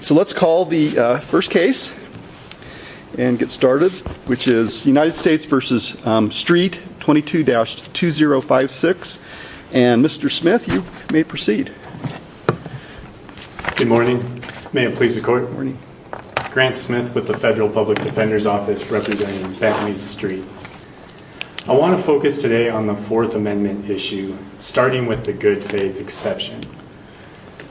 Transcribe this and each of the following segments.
So let's call the first case and get started, which is United States v. Streett 22-2056 and Mr. Smith, you may proceed. Good morning. May it please the court. Grant Smith with the Federal Public Defender's Office representing Bentley Street. I want to focus today on the Fourth Amendment issue, starting with the good faith exception.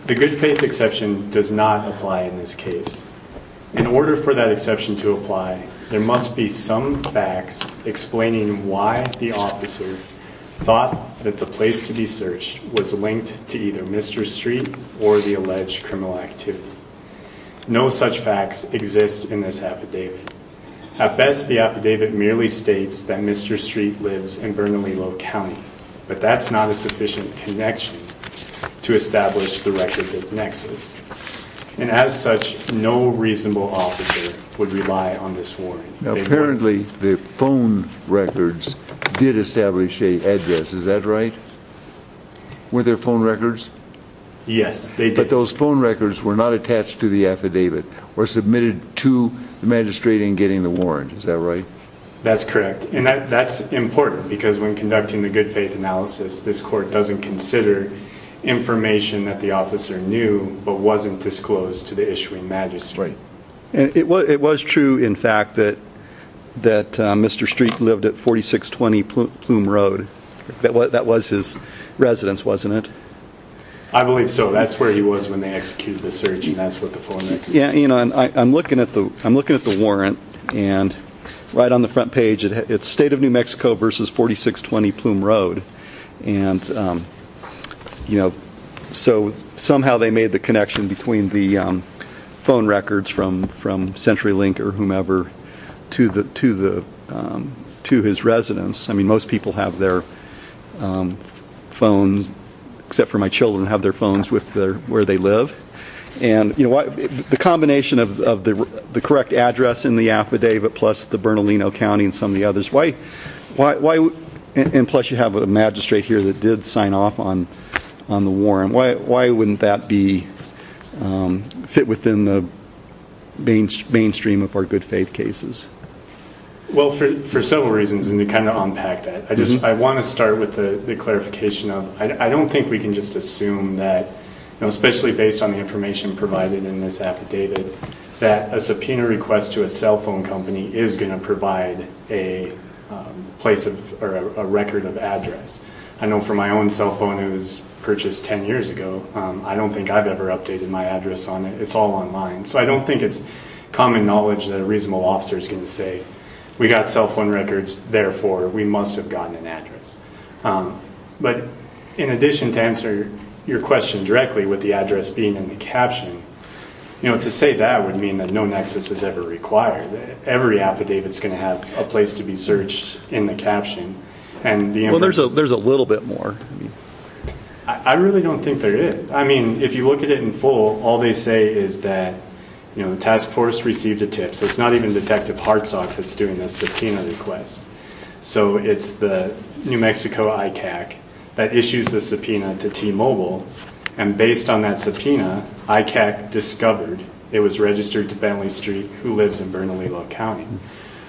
The good faith exception does not apply in this case. In order for that exception to apply, there must be some facts explaining why the officer thought that the place to be searched was linked to either Mr. Streett or the alleged criminal activity. No such facts exist in this affidavit. At best, the affidavit merely states that Mr. Streett lives in Bernalillo County, but that's not a sufficient connection to establish the requisite nexus. And as such, no reasonable officer would rely on this warrant. Apparently, the phone records did establish an address, is that right? Were there phone records? Yes, they did. But those phone records were not attached to the affidavit or submitted to the magistrate in getting the warrant, is that right? That's correct, and that's important because when conducting the good faith analysis, this court doesn't consider information that the officer knew but wasn't disclosed to the issuing magistrate. It was true, in fact, that Mr. Streett lived at 4620 Plume Road. That was his residence, wasn't it? I believe so. That's where he was when they executed the search, and that's what the phone records say. I'm looking at the warrant, and right on the front page, it's State of New Mexico versus 4620 Plume Road. And so somehow they made the connection between the phone records from CenturyLink or whomever to his residence. I mean, most people have their phones, except for my children, have their phones where they live. The combination of the correct address in the affidavit plus the Bernalino County and some of the others, and plus you have a magistrate here that did sign off on the warrant, why wouldn't that fit within the mainstream of our good faith cases? Well, for several reasons, and to kind of unpack that, I want to start with the clarification. I don't think we can just assume that, especially based on the information provided in this affidavit, that a subpoena request to a cell phone company is going to provide a record of address. I know for my own cell phone, it was purchased 10 years ago. I don't think I've ever updated my address on it. It's all online. So I don't think it's common knowledge that a reasonable officer is going to say, we got cell phone records, therefore we must have gotten an address. But in addition to answer your question directly with the address being in the caption, to say that would mean that no nexus is ever required. Every affidavit is going to have a place to be searched in the caption. Well, there's a little bit more. I really don't think there is. I mean, if you look at it in full, all they say is that the task force received a tip. So it's not even Detective Hartsock that's doing this subpoena request. So it's the New Mexico ICAC that issues a subpoena to T-Mobile, and based on that subpoena, ICAC discovered it was registered to Bentley Street, who lives in Bernalillo County.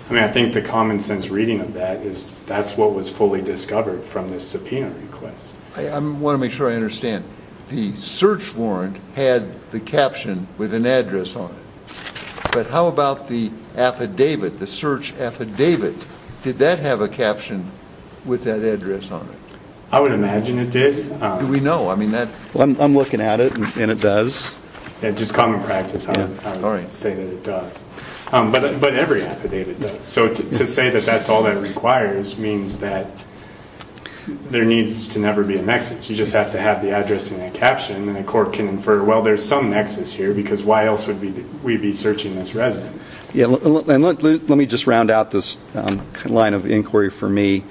I mean, I think the common sense reading of that is that's what was fully discovered from this subpoena request. I want to make sure I understand. The search warrant had the caption with an address on it. But how about the affidavit, the search affidavit? Did that have a caption with that address on it? I would imagine it did. Do we know? I'm looking at it, and it does. Just common practice, I would say that it does. But every affidavit does. So to say that that's all that requires means that there needs to never be a nexus. You just have to have the address in that caption, and the court can infer, well, there's some nexus here, because why else would we be searching this residence? Let me just round out this line of inquiry for me.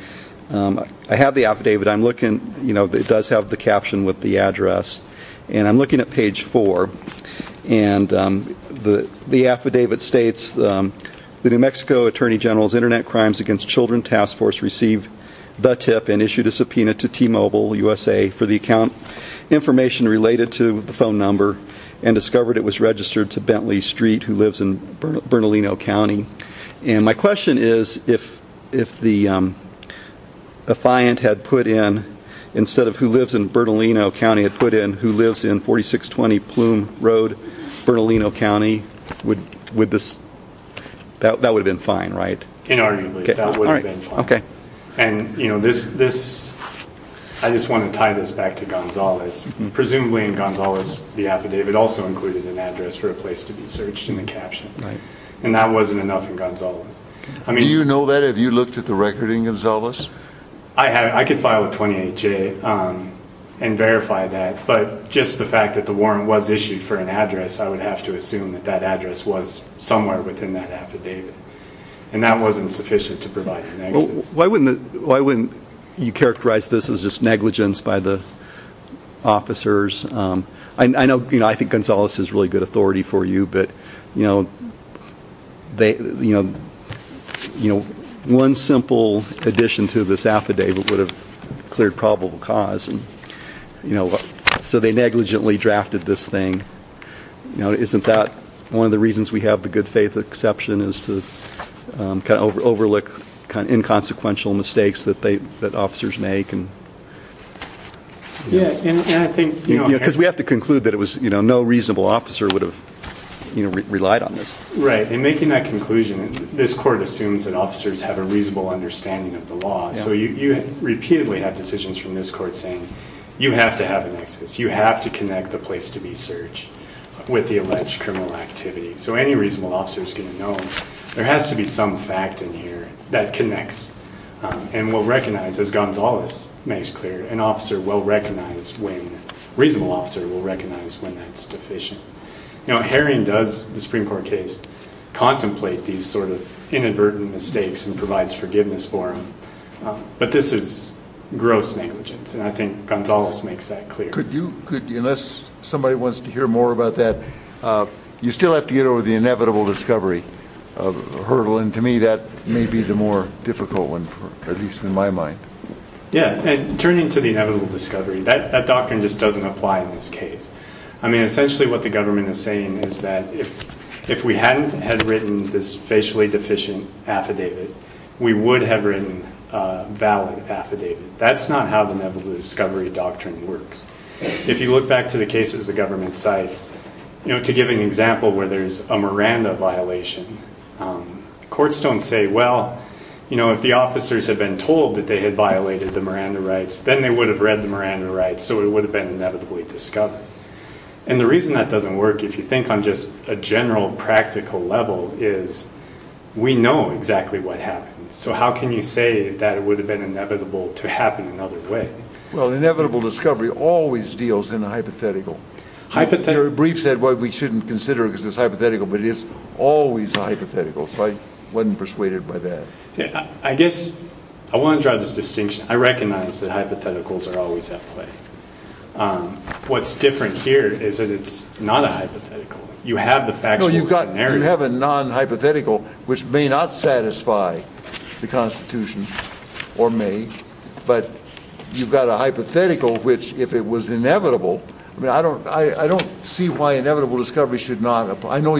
I have the affidavit. It does have the caption with the address. And I'm looking at page 4, and the affidavit states, The New Mexico Attorney General's Internet Crimes Against Children Task Force received the tip and issued a subpoena to T-Mobile USA for the account information related to the phone number and discovered it was registered to Bentley Street, who lives in Bernalino County. And my question is, if the affiant had put in, instead of who lives in Bernalino County, had put in who lives in 4620 Plume Road, Bernalino County, that would have been fine, right? Inarguably, that would have been fine. And I just want to tie this back to Gonzales. Presumably in Gonzales, the affidavit also included an address for a place to be searched in the caption. And that wasn't enough in Gonzales. Do you know that? Have you looked at the record in Gonzales? I could file a 28-J and verify that. But just the fact that the warrant was issued for an address, I would have to assume that that address was somewhere within that affidavit. And that wasn't sufficient to provide an access. Why wouldn't you characterize this as just negligence by the officers? I know, you know, I think Gonzales has really good authority for you, but, you know, one simple addition to this affidavit would have cleared probable cause. So they negligently drafted this thing. Isn't that one of the reasons we have the good faith exception, is to kind of overlook inconsequential mistakes that officers make? Because we have to conclude that no reasonable officer would have relied on this. Right. In making that conclusion, this court assumes that officers have a reasonable understanding of the law. So you repeatedly have decisions from this court saying you have to have an access, you have to connect the place to be searched with the alleged criminal activity. So any reasonable officer is going to know there has to be some fact in here that connects. And will recognize, as Gonzales makes clear, an officer will recognize when, a reasonable officer will recognize when that's deficient. Now Herring does, the Supreme Court case, contemplate these sort of inadvertent mistakes and provides forgiveness for them. But this is gross negligence, and I think Gonzales makes that clear. Could you, unless somebody wants to hear more about that, you still have to get over the inevitable discovery hurdle, and to me that may be the more difficult one, at least in my mind. Yeah, and turning to the inevitable discovery, that doctrine just doesn't apply in this case. I mean, essentially what the government is saying is that if we hadn't had written this facially deficient affidavit, we would have written a valid affidavit. That's not how the inevitable discovery doctrine works. If you look back to the cases the government cites, to give an example where there's a Miranda violation, courts don't say, well, if the officers had been told that they had violated the Miranda rights, then they would have read the Miranda rights, so it would have been inevitably discovered. And the reason that doesn't work, if you think on just a general practical level, is we know exactly what happened. So how can you say that it would have been inevitable to happen another way? Well, inevitable discovery always deals in a hypothetical. Your brief said what we shouldn't consider because it's hypothetical, but it is always a hypothetical, so I wasn't persuaded by that. I guess I want to draw this distinction. I recognize that hypotheticals are always at play. What's different here is that it's not a hypothetical. You have the factual scenario. No, you have a non-hypothetical, which may not satisfy the Constitution, or may, but you've got a hypothetical which, if it was inevitable, I don't see why inevitable discovery should not apply. I know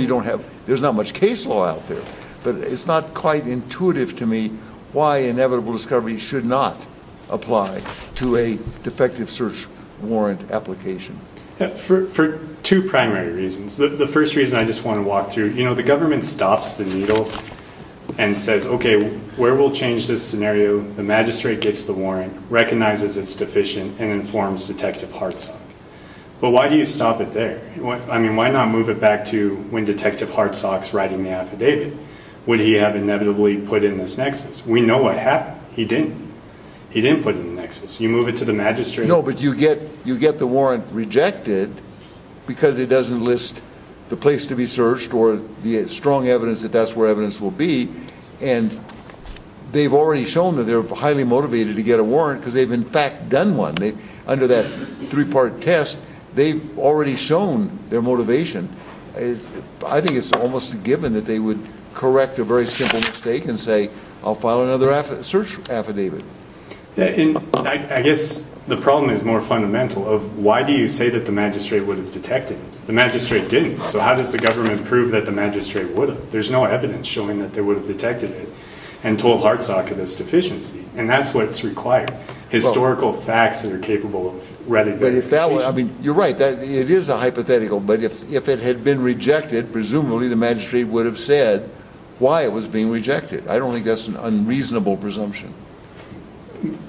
there's not much case law out there, but it's not quite intuitive to me why inevitable discovery should not apply to a defective search warrant application. For two primary reasons. The first reason I just want to walk through, you know, the government stops the needle and says, okay, where we'll change this scenario. The magistrate gets the warrant, recognizes it's deficient, and informs Detective Hartsock. But why do you stop it there? I mean, why not move it back to when Detective Hartsock's writing the affidavit? Would he have inevitably put it in this nexus? We know what happened. He didn't. He didn't put it in the nexus. You move it to the magistrate. No, but you get the warrant rejected because it doesn't list the place to be searched or the strong evidence that that's where evidence will be, and they've already shown that they're highly motivated to get a warrant because they've, in fact, done one. Under that three-part test, they've already shown their motivation. I think it's almost a given that they would correct a very simple mistake and say I'll file another search affidavit. I guess the problem is more fundamental of why do you say that the magistrate would have detected? The magistrate didn't. So how does the government prove that the magistrate would have? There's no evidence showing that they would have detected it and told Hartsock of his deficiency, and that's what's required, historical facts that are capable of rather good indication. You're right. It is a hypothetical, but if it had been rejected, presumably the magistrate would have said why it was being rejected. I don't think that's an unreasonable presumption.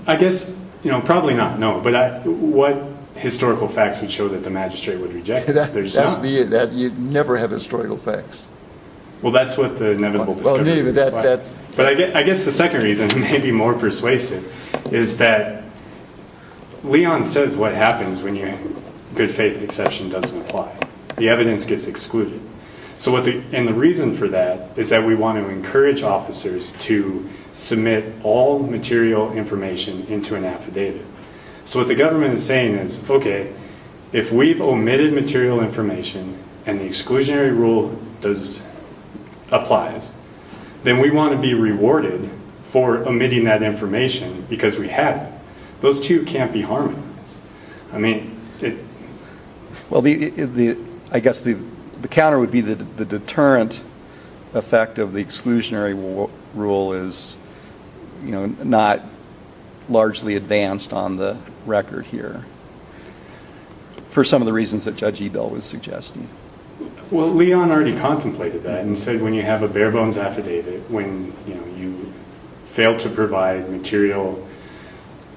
I guess probably not, no, but what historical facts would show that the magistrate would reject it? You never have historical facts. Well, that's what the inevitable discovery would imply. But I guess the second reason, maybe more persuasive, is that Leon says what happens when your good faith exception doesn't apply. The evidence gets excluded. And the reason for that is that we want to encourage officers to submit all material information into an affidavit. So what the government is saying is, okay, if we've omitted material information and the exclusionary rule applies, then we want to be rewarded for omitting that information because we have it. Those two can't be harmonized. Well, I guess the counter would be the deterrent effect of the exclusionary rule is not largely advanced on the record here for some of the reasons that Judge Ebell was suggesting. Well, Leon already contemplated that and said when you have a bare-bones affidavit, when you fail to provide material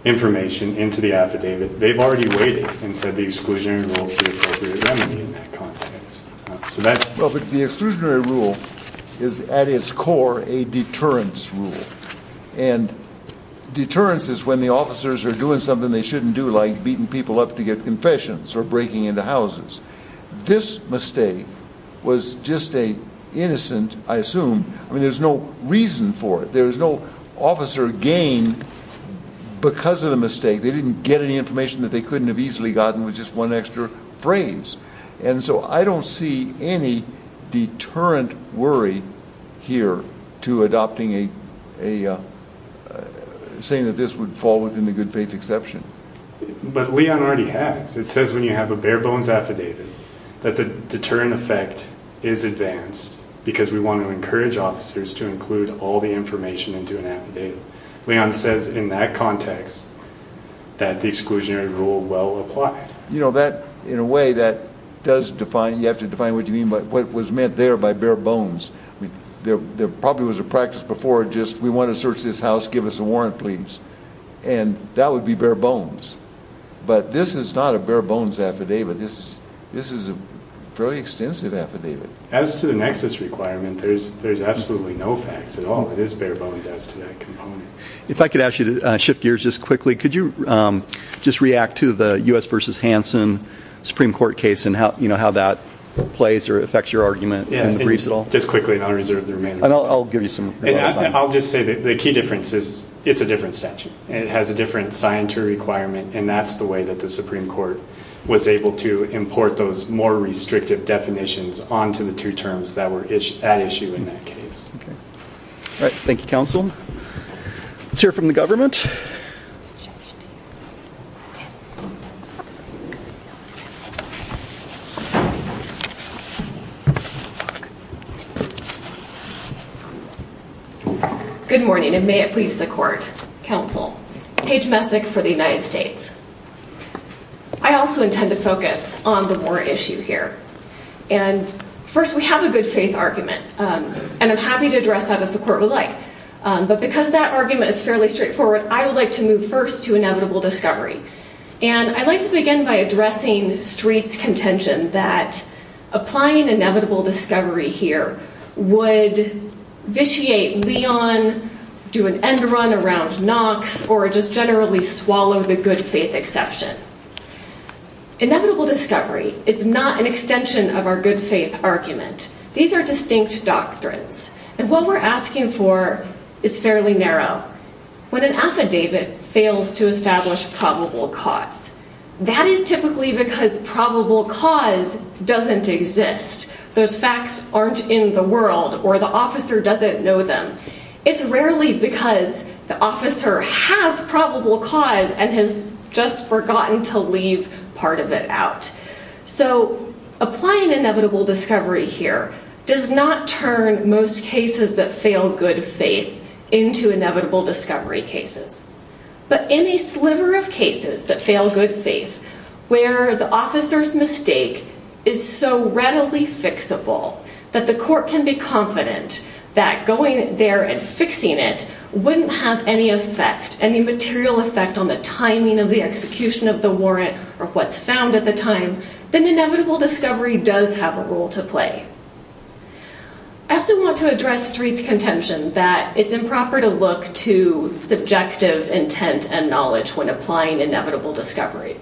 information into the affidavit, they've already waited and said the exclusionary rule is the appropriate remedy in that context. Well, but the exclusionary rule is, at its core, a deterrence rule. And deterrence is when the officers are doing something they shouldn't do like beating people up to get confessions or breaking into houses. This mistake was just an innocent, I assume, I mean, there's no reason for it. There's no officer gain because of the mistake. They didn't get any information that they couldn't have easily gotten with just one extra phrase. And so I don't see any deterrent worry here to adopting a saying that this would fall within the good faith exception. But Leon already has. It says when you have a bare-bones affidavit that the deterrent effect is advanced because we want to encourage officers to include all the information into an affidavit. Leon says in that context that the exclusionary rule will apply. You know, that, in a way, that does define, you have to define what you mean by what was meant there by bare-bones. There probably was a practice before just we want to search this house, give us a warrant, please, and that would be bare-bones. But this is not a bare-bones affidavit. This is a fairly extensive affidavit. As to the nexus requirement, there's absolutely no facts at all. It is bare-bones as to that component. If I could ask you to shift gears just quickly, could you just react to the U.S. v. Hansen Supreme Court case and how that plays or affects your argument in the briefs at all? Just quickly, and I'll reserve the remainder of my time. I'll just say that the key difference is it's a different statute. It has a different signatory requirement, and that's the way that the Supreme Court was able to import those more restrictive definitions onto the two terms that were at issue in that case. All right. Thank you, counsel. Let's hear from the government. Good morning, and may it please the court, counsel. Paige Messick for the United States. I also intend to focus on the Moore issue here. And first, we have a good-faith argument, and I'm happy to address that if the court would like. But because that argument is fairly straightforward, I would like to move first to inevitable discovery. And I'd like to begin by addressing Street's contention that applying inevitable discovery here would vitiate Leon, do an end run around Knox, or just generally swallow the good-faith exception. Inevitable discovery is not an extension of our good-faith argument. These are distinct doctrines. And what we're asking for is fairly narrow. When an affidavit fails to establish probable cause, that is typically because probable cause doesn't exist. Those facts aren't in the world, or the officer doesn't know them. It's rarely because the officer has probable cause and has just forgotten to leave part of it out. So applying inevitable discovery here does not turn most cases that fail good faith into inevitable discovery cases. But in a sliver of cases that fail good faith, where the officer's mistake is so readily fixable that the court can be confident that going there and fixing it wouldn't have any effect, any material effect on the timing of the execution of the warrant or what's found at the time, then inevitable discovery does have a role to play. I also want to address Street's contention that it's improper to look to subjective intent and knowledge when applying inevitable discovery.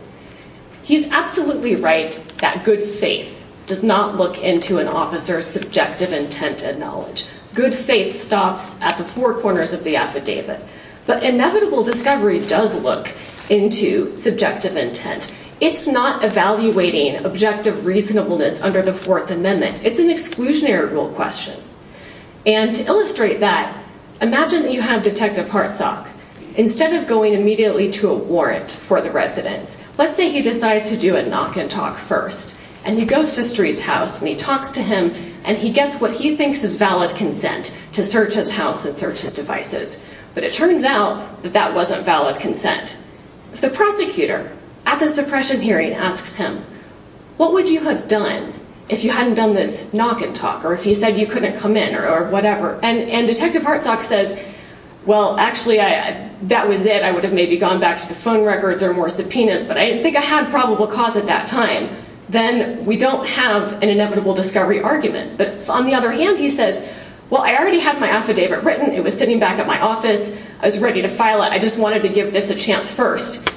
He's absolutely right that good faith does not look into an officer's subjective intent and knowledge. Good faith stops at the four corners of the affidavit. But inevitable discovery does look into subjective intent. It's not evaluating objective reasonableness under the Fourth Amendment. It's an exclusionary rule question. And to illustrate that, imagine that you have Detective Hartsock. Instead of going immediately to a warrant for the residence, let's say he decides to do a knock and talk first. And he goes to Street's house and he talks to him and he gets what he thinks is valid consent to search his house and search his devices. But it turns out that that wasn't valid consent. The prosecutor at the suppression hearing asks him, what would you have done if you hadn't done this knock and talk or if he said you couldn't come in or whatever? And Detective Hartsock says, well, actually, that was it. I would have maybe gone back to the phone records or more subpoenas, but I didn't think I had probable cause at that time. Then we don't have an inevitable discovery argument. But on the other hand, he says, well, I already have my affidavit written. It was sitting back at my office. I was ready to file it. I just wanted to give this a chance first.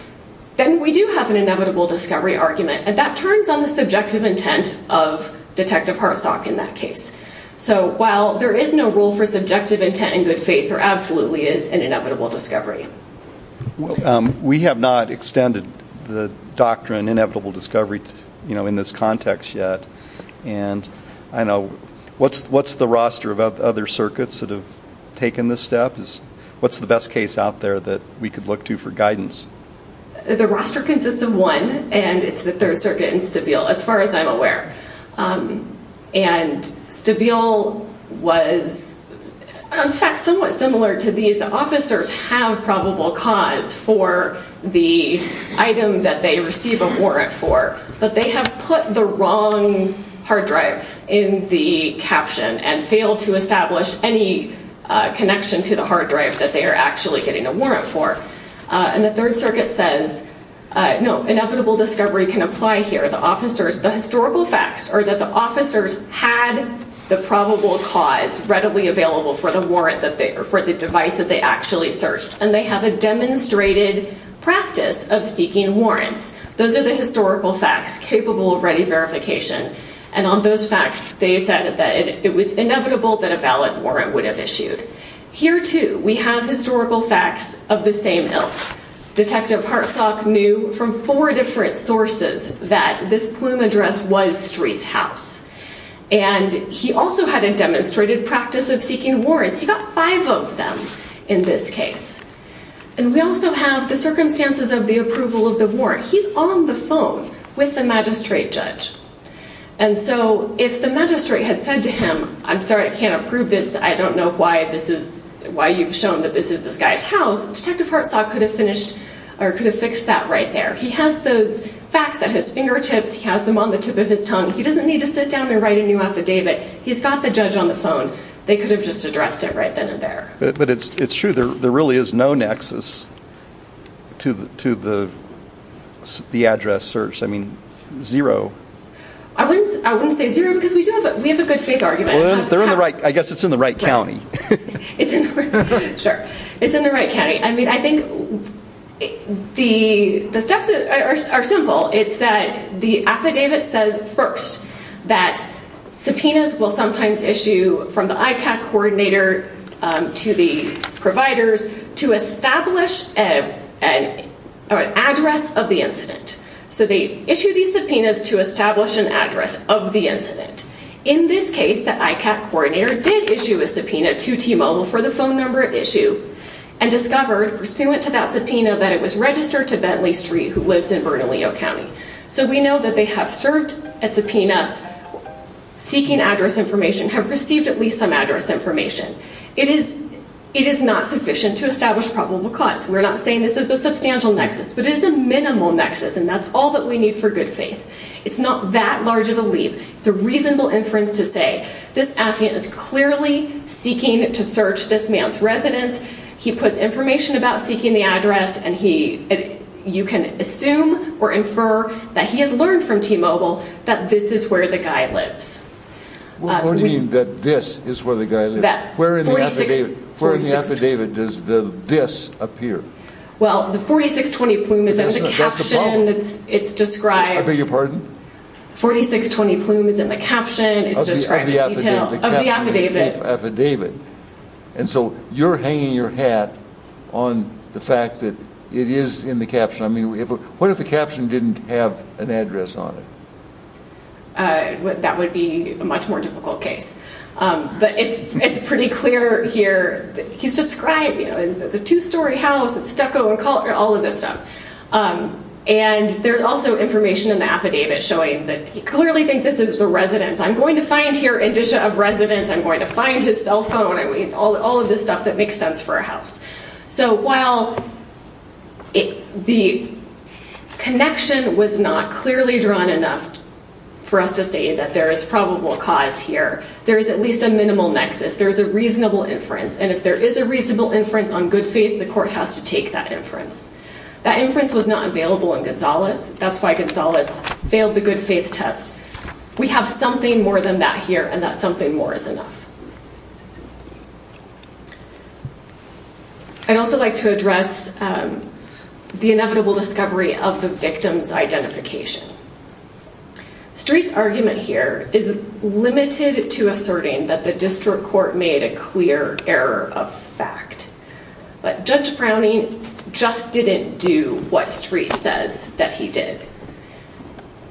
Then we do have an inevitable discovery argument. And that turns on the subjective intent of Detective Hartsock in that case. So while there is no rule for subjective intent in good faith, there absolutely is an inevitable discovery. We have not extended the doctrine inevitable discovery in this context yet. And I know what's the roster of other circuits that have taken this step? What's the best case out there that we could look to for guidance? The roster consists of one, and it's the Third Circuit and Stabile, as far as I'm aware. And Stabile was, in fact, somewhat similar to these. The officers have probable cause for the item that they receive a warrant for, but they have put the wrong hard drive in the caption and failed to establish any connection to the hard drive that they are actually getting a warrant for. And the Third Circuit says, no, inevitable discovery can apply here. The historical facts are that the officers had the probable cause readily available for the device that they actually searched, and they have a demonstrated practice of seeking warrants. Those are the historical facts capable of ready verification. And on those facts, they said that it was inevitable that a valid warrant would have issued. Here, too, we have historical facts of the same ilk. Detective Hartsock knew from four different sources that this plume address was Street's house. And he also had a demonstrated practice of seeking warrants. He got five of them in this case. And we also have the circumstances of the approval of the warrant. He's on the phone with the magistrate judge. And so if the magistrate had said to him, I'm sorry, I can't approve this, I don't know why you've shown that this is this guy's house, Detective Hartsock could have fixed that right there. He has those facts at his fingertips. He has them on the tip of his tongue. He doesn't need to sit down and write a new affidavit. He's got the judge on the phone. They could have just addressed it right then and there. But it's true. There really is no nexus to the address search. I mean, zero. I wouldn't say zero because we have a good faith argument. I guess it's in the right county. Sure. It's in the right county. I mean, I think the steps are simple. It's that the affidavit says first that subpoenas will sometimes issue from the ICAC coordinator to the providers to establish an address of the incident. So they issue these subpoenas to establish an address of the incident. In this case, the ICAC coordinator did issue a subpoena to T-Mobile for the phone number at issue and discovered, pursuant to that subpoena, that it was registered to Bentley Street, who lives in Bernalillo County. So we know that they have served a subpoena seeking address information, have received at least some address information. It is not sufficient to establish probable cause. We're not saying this is a substantial nexus, but it is a minimal nexus, and that's all that we need for good faith. It's not that large of a leap. It's a reasonable inference to say this affidavit is clearly seeking to search this man's residence. He puts information about seeking the address, and you can assume or infer that he has learned from T-Mobile that this is where the guy lives. We're pointing that this is where the guy lives. Where in the affidavit does the this appear? Well, the 4620 plume is in the caption. That's the problem. It's described. I beg your pardon? 4620 plume is in the caption. It's described in detail. Of the affidavit. Of the affidavit. And so you're hanging your hat on the fact that it is in the caption. I mean, what if the caption didn't have an address on it? That would be a much more difficult case. But it's pretty clear here. He's described, you know, it's a two-story house. It's stucco and all of this stuff. And there's also information in the affidavit showing that he clearly thinks this is the residence. I'm going to find here indicia of residence. I'm going to find his cell phone. All of this stuff that makes sense for a house. So while the connection was not clearly drawn enough for us to say that there is probable cause here, there is at least a minimal nexus. There is a reasonable inference. And if there is a reasonable inference on good faith, the court has to take that inference. That inference was not available in Gonzales. That's why Gonzales failed the good faith test. We have something more than that here, and that something more is enough. I'd also like to address the inevitable discovery of the victim's identification. Street's argument here is limited to asserting that the district court made a clear error of fact. But Judge Browning just didn't do what Street says that he did.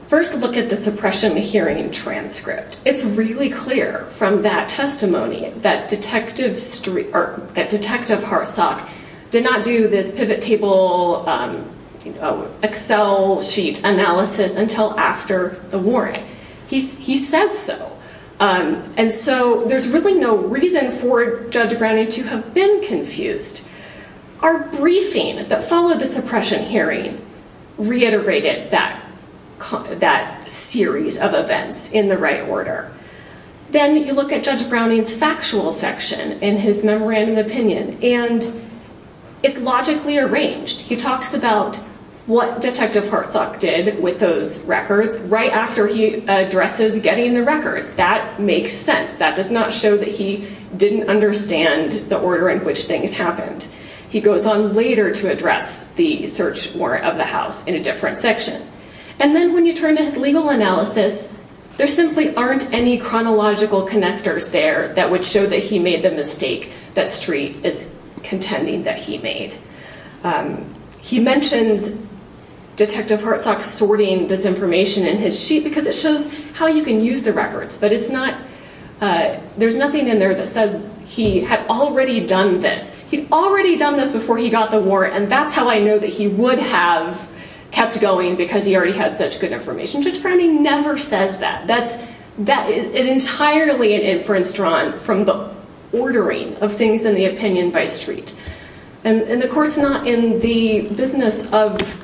First look at the suppression hearing transcript. It's really clear from that testimony that Detective Hartsock did not do this pivot table Excel sheet analysis until after the warning. He says so. And so there's really no reason for Judge Browning to have been confused. Our briefing that followed the suppression hearing reiterated that series of events in the right order. Then you look at Judge Browning's factual section in his memorandum opinion, and it's logically arranged. He talks about what Detective Hartsock did with those records right after he addresses getting the records. That makes sense. That does not show that he didn't understand the order in which things happened. He goes on later to address the search warrant of the house in a different section. And then when you turn to his legal analysis, there simply aren't any chronological connectors there that would show that he made the mistake that Street is contending that he made. He mentions Detective Hartsock sorting this information in his sheet because it shows how you can use the records, but there's nothing in there that says he had already done this. He'd already done this before he got the warrant, and that's how I know that he would have kept going because he already had such good information. Judge Browning never says that. That is entirely an inference drawn from the ordering of things in the opinion by Street. And the court's not in the business of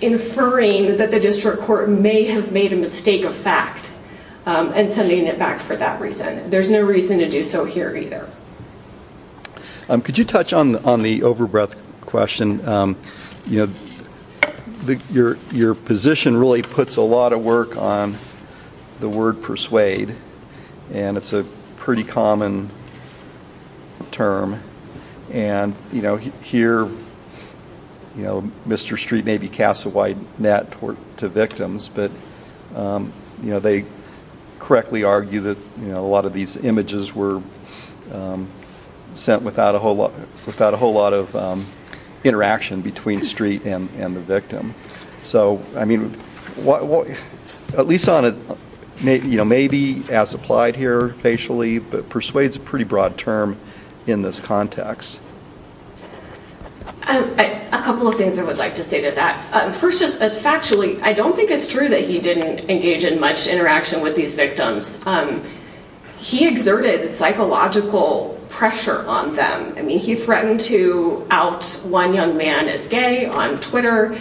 inferring that the district court may have made a mistake of fact and sending it back for that reason. There's no reason to do so here either. Could you touch on the overbreath question? Your position really puts a lot of work on the word persuade, and it's a pretty common term. And here, Mr. Street may be cast a wide net to victims, but they correctly argue that a lot of these images were sent without a whole lot of interaction between Street and the victim. At least maybe as applied here facially, but persuade is a pretty broad term in this context. A couple of things I would like to say to that. First, factually, I don't think it's true that he didn't engage in much interaction with these victims. He exerted psychological pressure on them. I mean, he threatened to out one young man as gay on Twitter.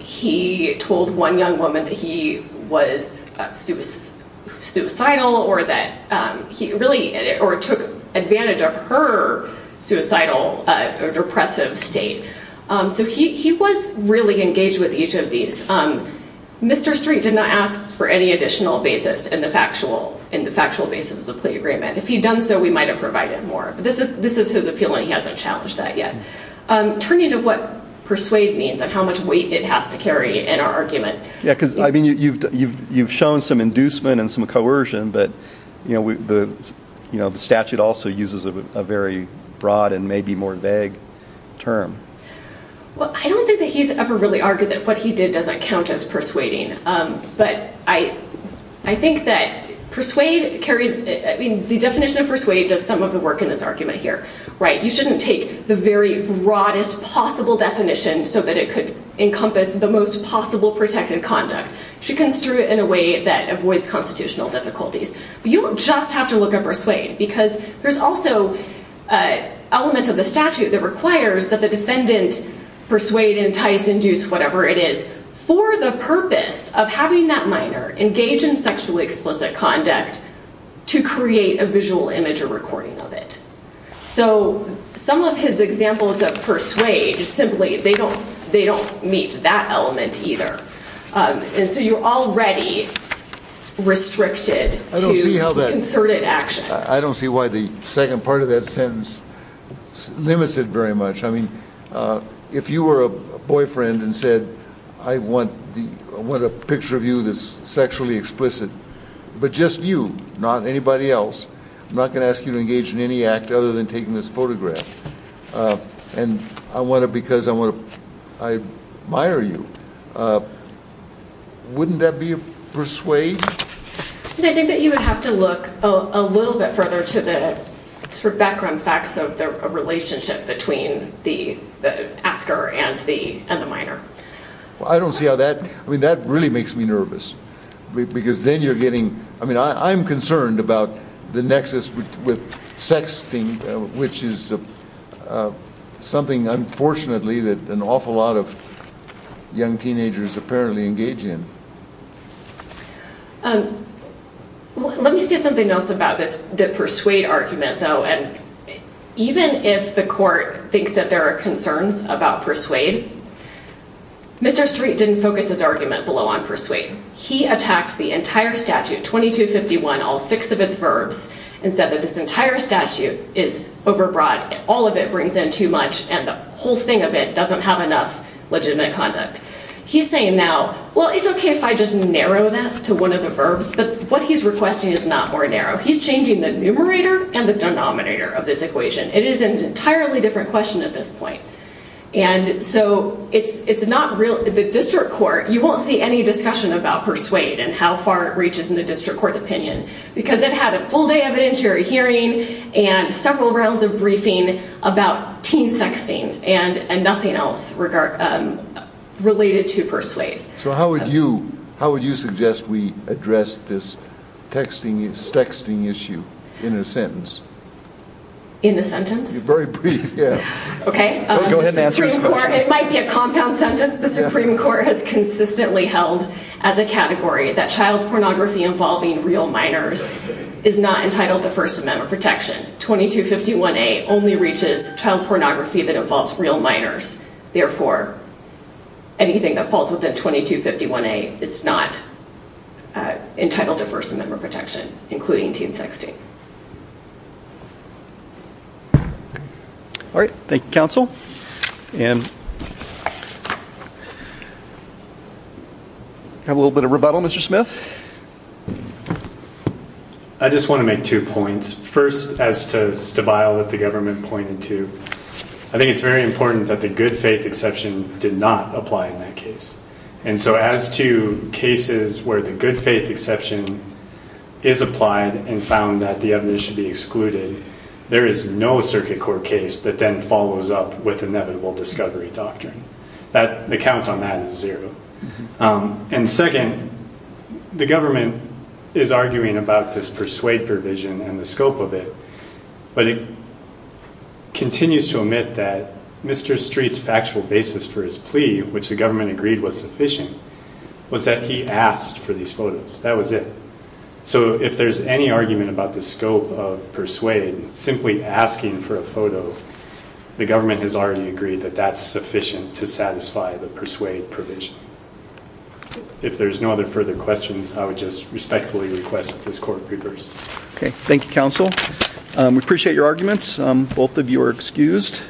He told one young woman that he was suicidal or that he really or took advantage of her suicidal or depressive state. So he was really engaged with each of these. Mr. Street did not ask for any additional basis in the factual basis of the plea agreement. If he'd done so, we might have provided more. But this is his appeal, and he hasn't challenged that yet. Turning to what persuade means and how much weight it has to carry in our argument. Yeah, because, I mean, you've shown some inducement and some coercion, but the statute also uses a very broad and maybe more vague term. Well, I don't think that he's ever really argued that what he did doesn't count as persuading. But I think that persuade carries, I mean, the definition of persuade does some of the work in this argument here. You shouldn't take the very broadest possible definition so that it could encompass the most possible protected conduct. You should construe it in a way that avoids constitutional difficulties. But you don't just have to look at persuade, because there's also elements of the statute that requires that the defendant persuade, entice, induce, whatever it is, for the purpose of having that minor engage in sexually explicit conduct to create a visual image or recording of it. So some of his examples of persuade simply, they don't meet that element either. And so you're already restricted to concerted action. I don't see why the second part of that sentence limits it very much. I mean, if you were a boyfriend and said, I want a picture of you that's sexually explicit, but just you, not anybody else. I'm not going to ask you to engage in any act other than taking this photograph. And I want it because I admire you. Wouldn't that be a persuade? And I think that you would have to look a little bit further to the background facts of the relationship between the asker and the minor. I don't see how that, I mean, that really makes me nervous. Because then you're getting, I mean, I'm concerned about the nexus with sexting, which is something, unfortunately, that an awful lot of young teenagers apparently engage in. Let me say something else about this, the persuade argument, though. And even if the court thinks that there are concerns about persuade, Mr. Street didn't focus his argument below on persuade. He attacked the entire statute, 2251, all six of its verbs, and said that this entire statute is overbroad. All of it brings in too much. And the whole thing of it doesn't have enough legitimate conduct. He's saying now, well, it's okay if I just narrow that to one of the verbs. But what he's requesting is not more narrow. He's changing the numerator and the denominator of this equation. It is an entirely different question at this point. And so it's not real, the district court, you won't see any discussion about persuade and how far it reaches in the district court opinion. Because it had a full day evidentiary hearing and several rounds of briefing about teen sexting and nothing else related to persuade. So how would you suggest we address this sexting issue in a sentence? In a sentence? Very brief, yeah. Okay. It might be a compound sentence. The Supreme Court has consistently held as a category that child pornography involving real minors is not entitled to First Amendment protection. 2251A only reaches child pornography that involves real minors. Therefore, anything that falls within 2251A is not entitled to First Amendment protection, including teen sexting. All right. Thank you, counsel. And have a little bit of rebuttal, Mr. Smith. I just want to make two points. First, as to Stabile that the government pointed to, I think it's very important that the good faith exception did not apply in that case. And so as to cases where the good faith exception is applied and found that the evidence should be excluded, there is no circuit court case that then follows up with inevitable discovery doctrine. The count on that is zero. And second, the government is arguing about this persuade provision and the scope of it, but it continues to omit that Mr. Street's factual basis for his plea, which the government agreed was sufficient, was that he asked for these photos. That was it. So if there's any argument about the scope of persuade, simply asking for a photo, the government has already agreed that that's sufficient to satisfy the persuade provision. If there's no other further questions, I would just respectfully request that this court be reversed. Okay. Thank you, counsel. We appreciate your arguments. Both of you are excused.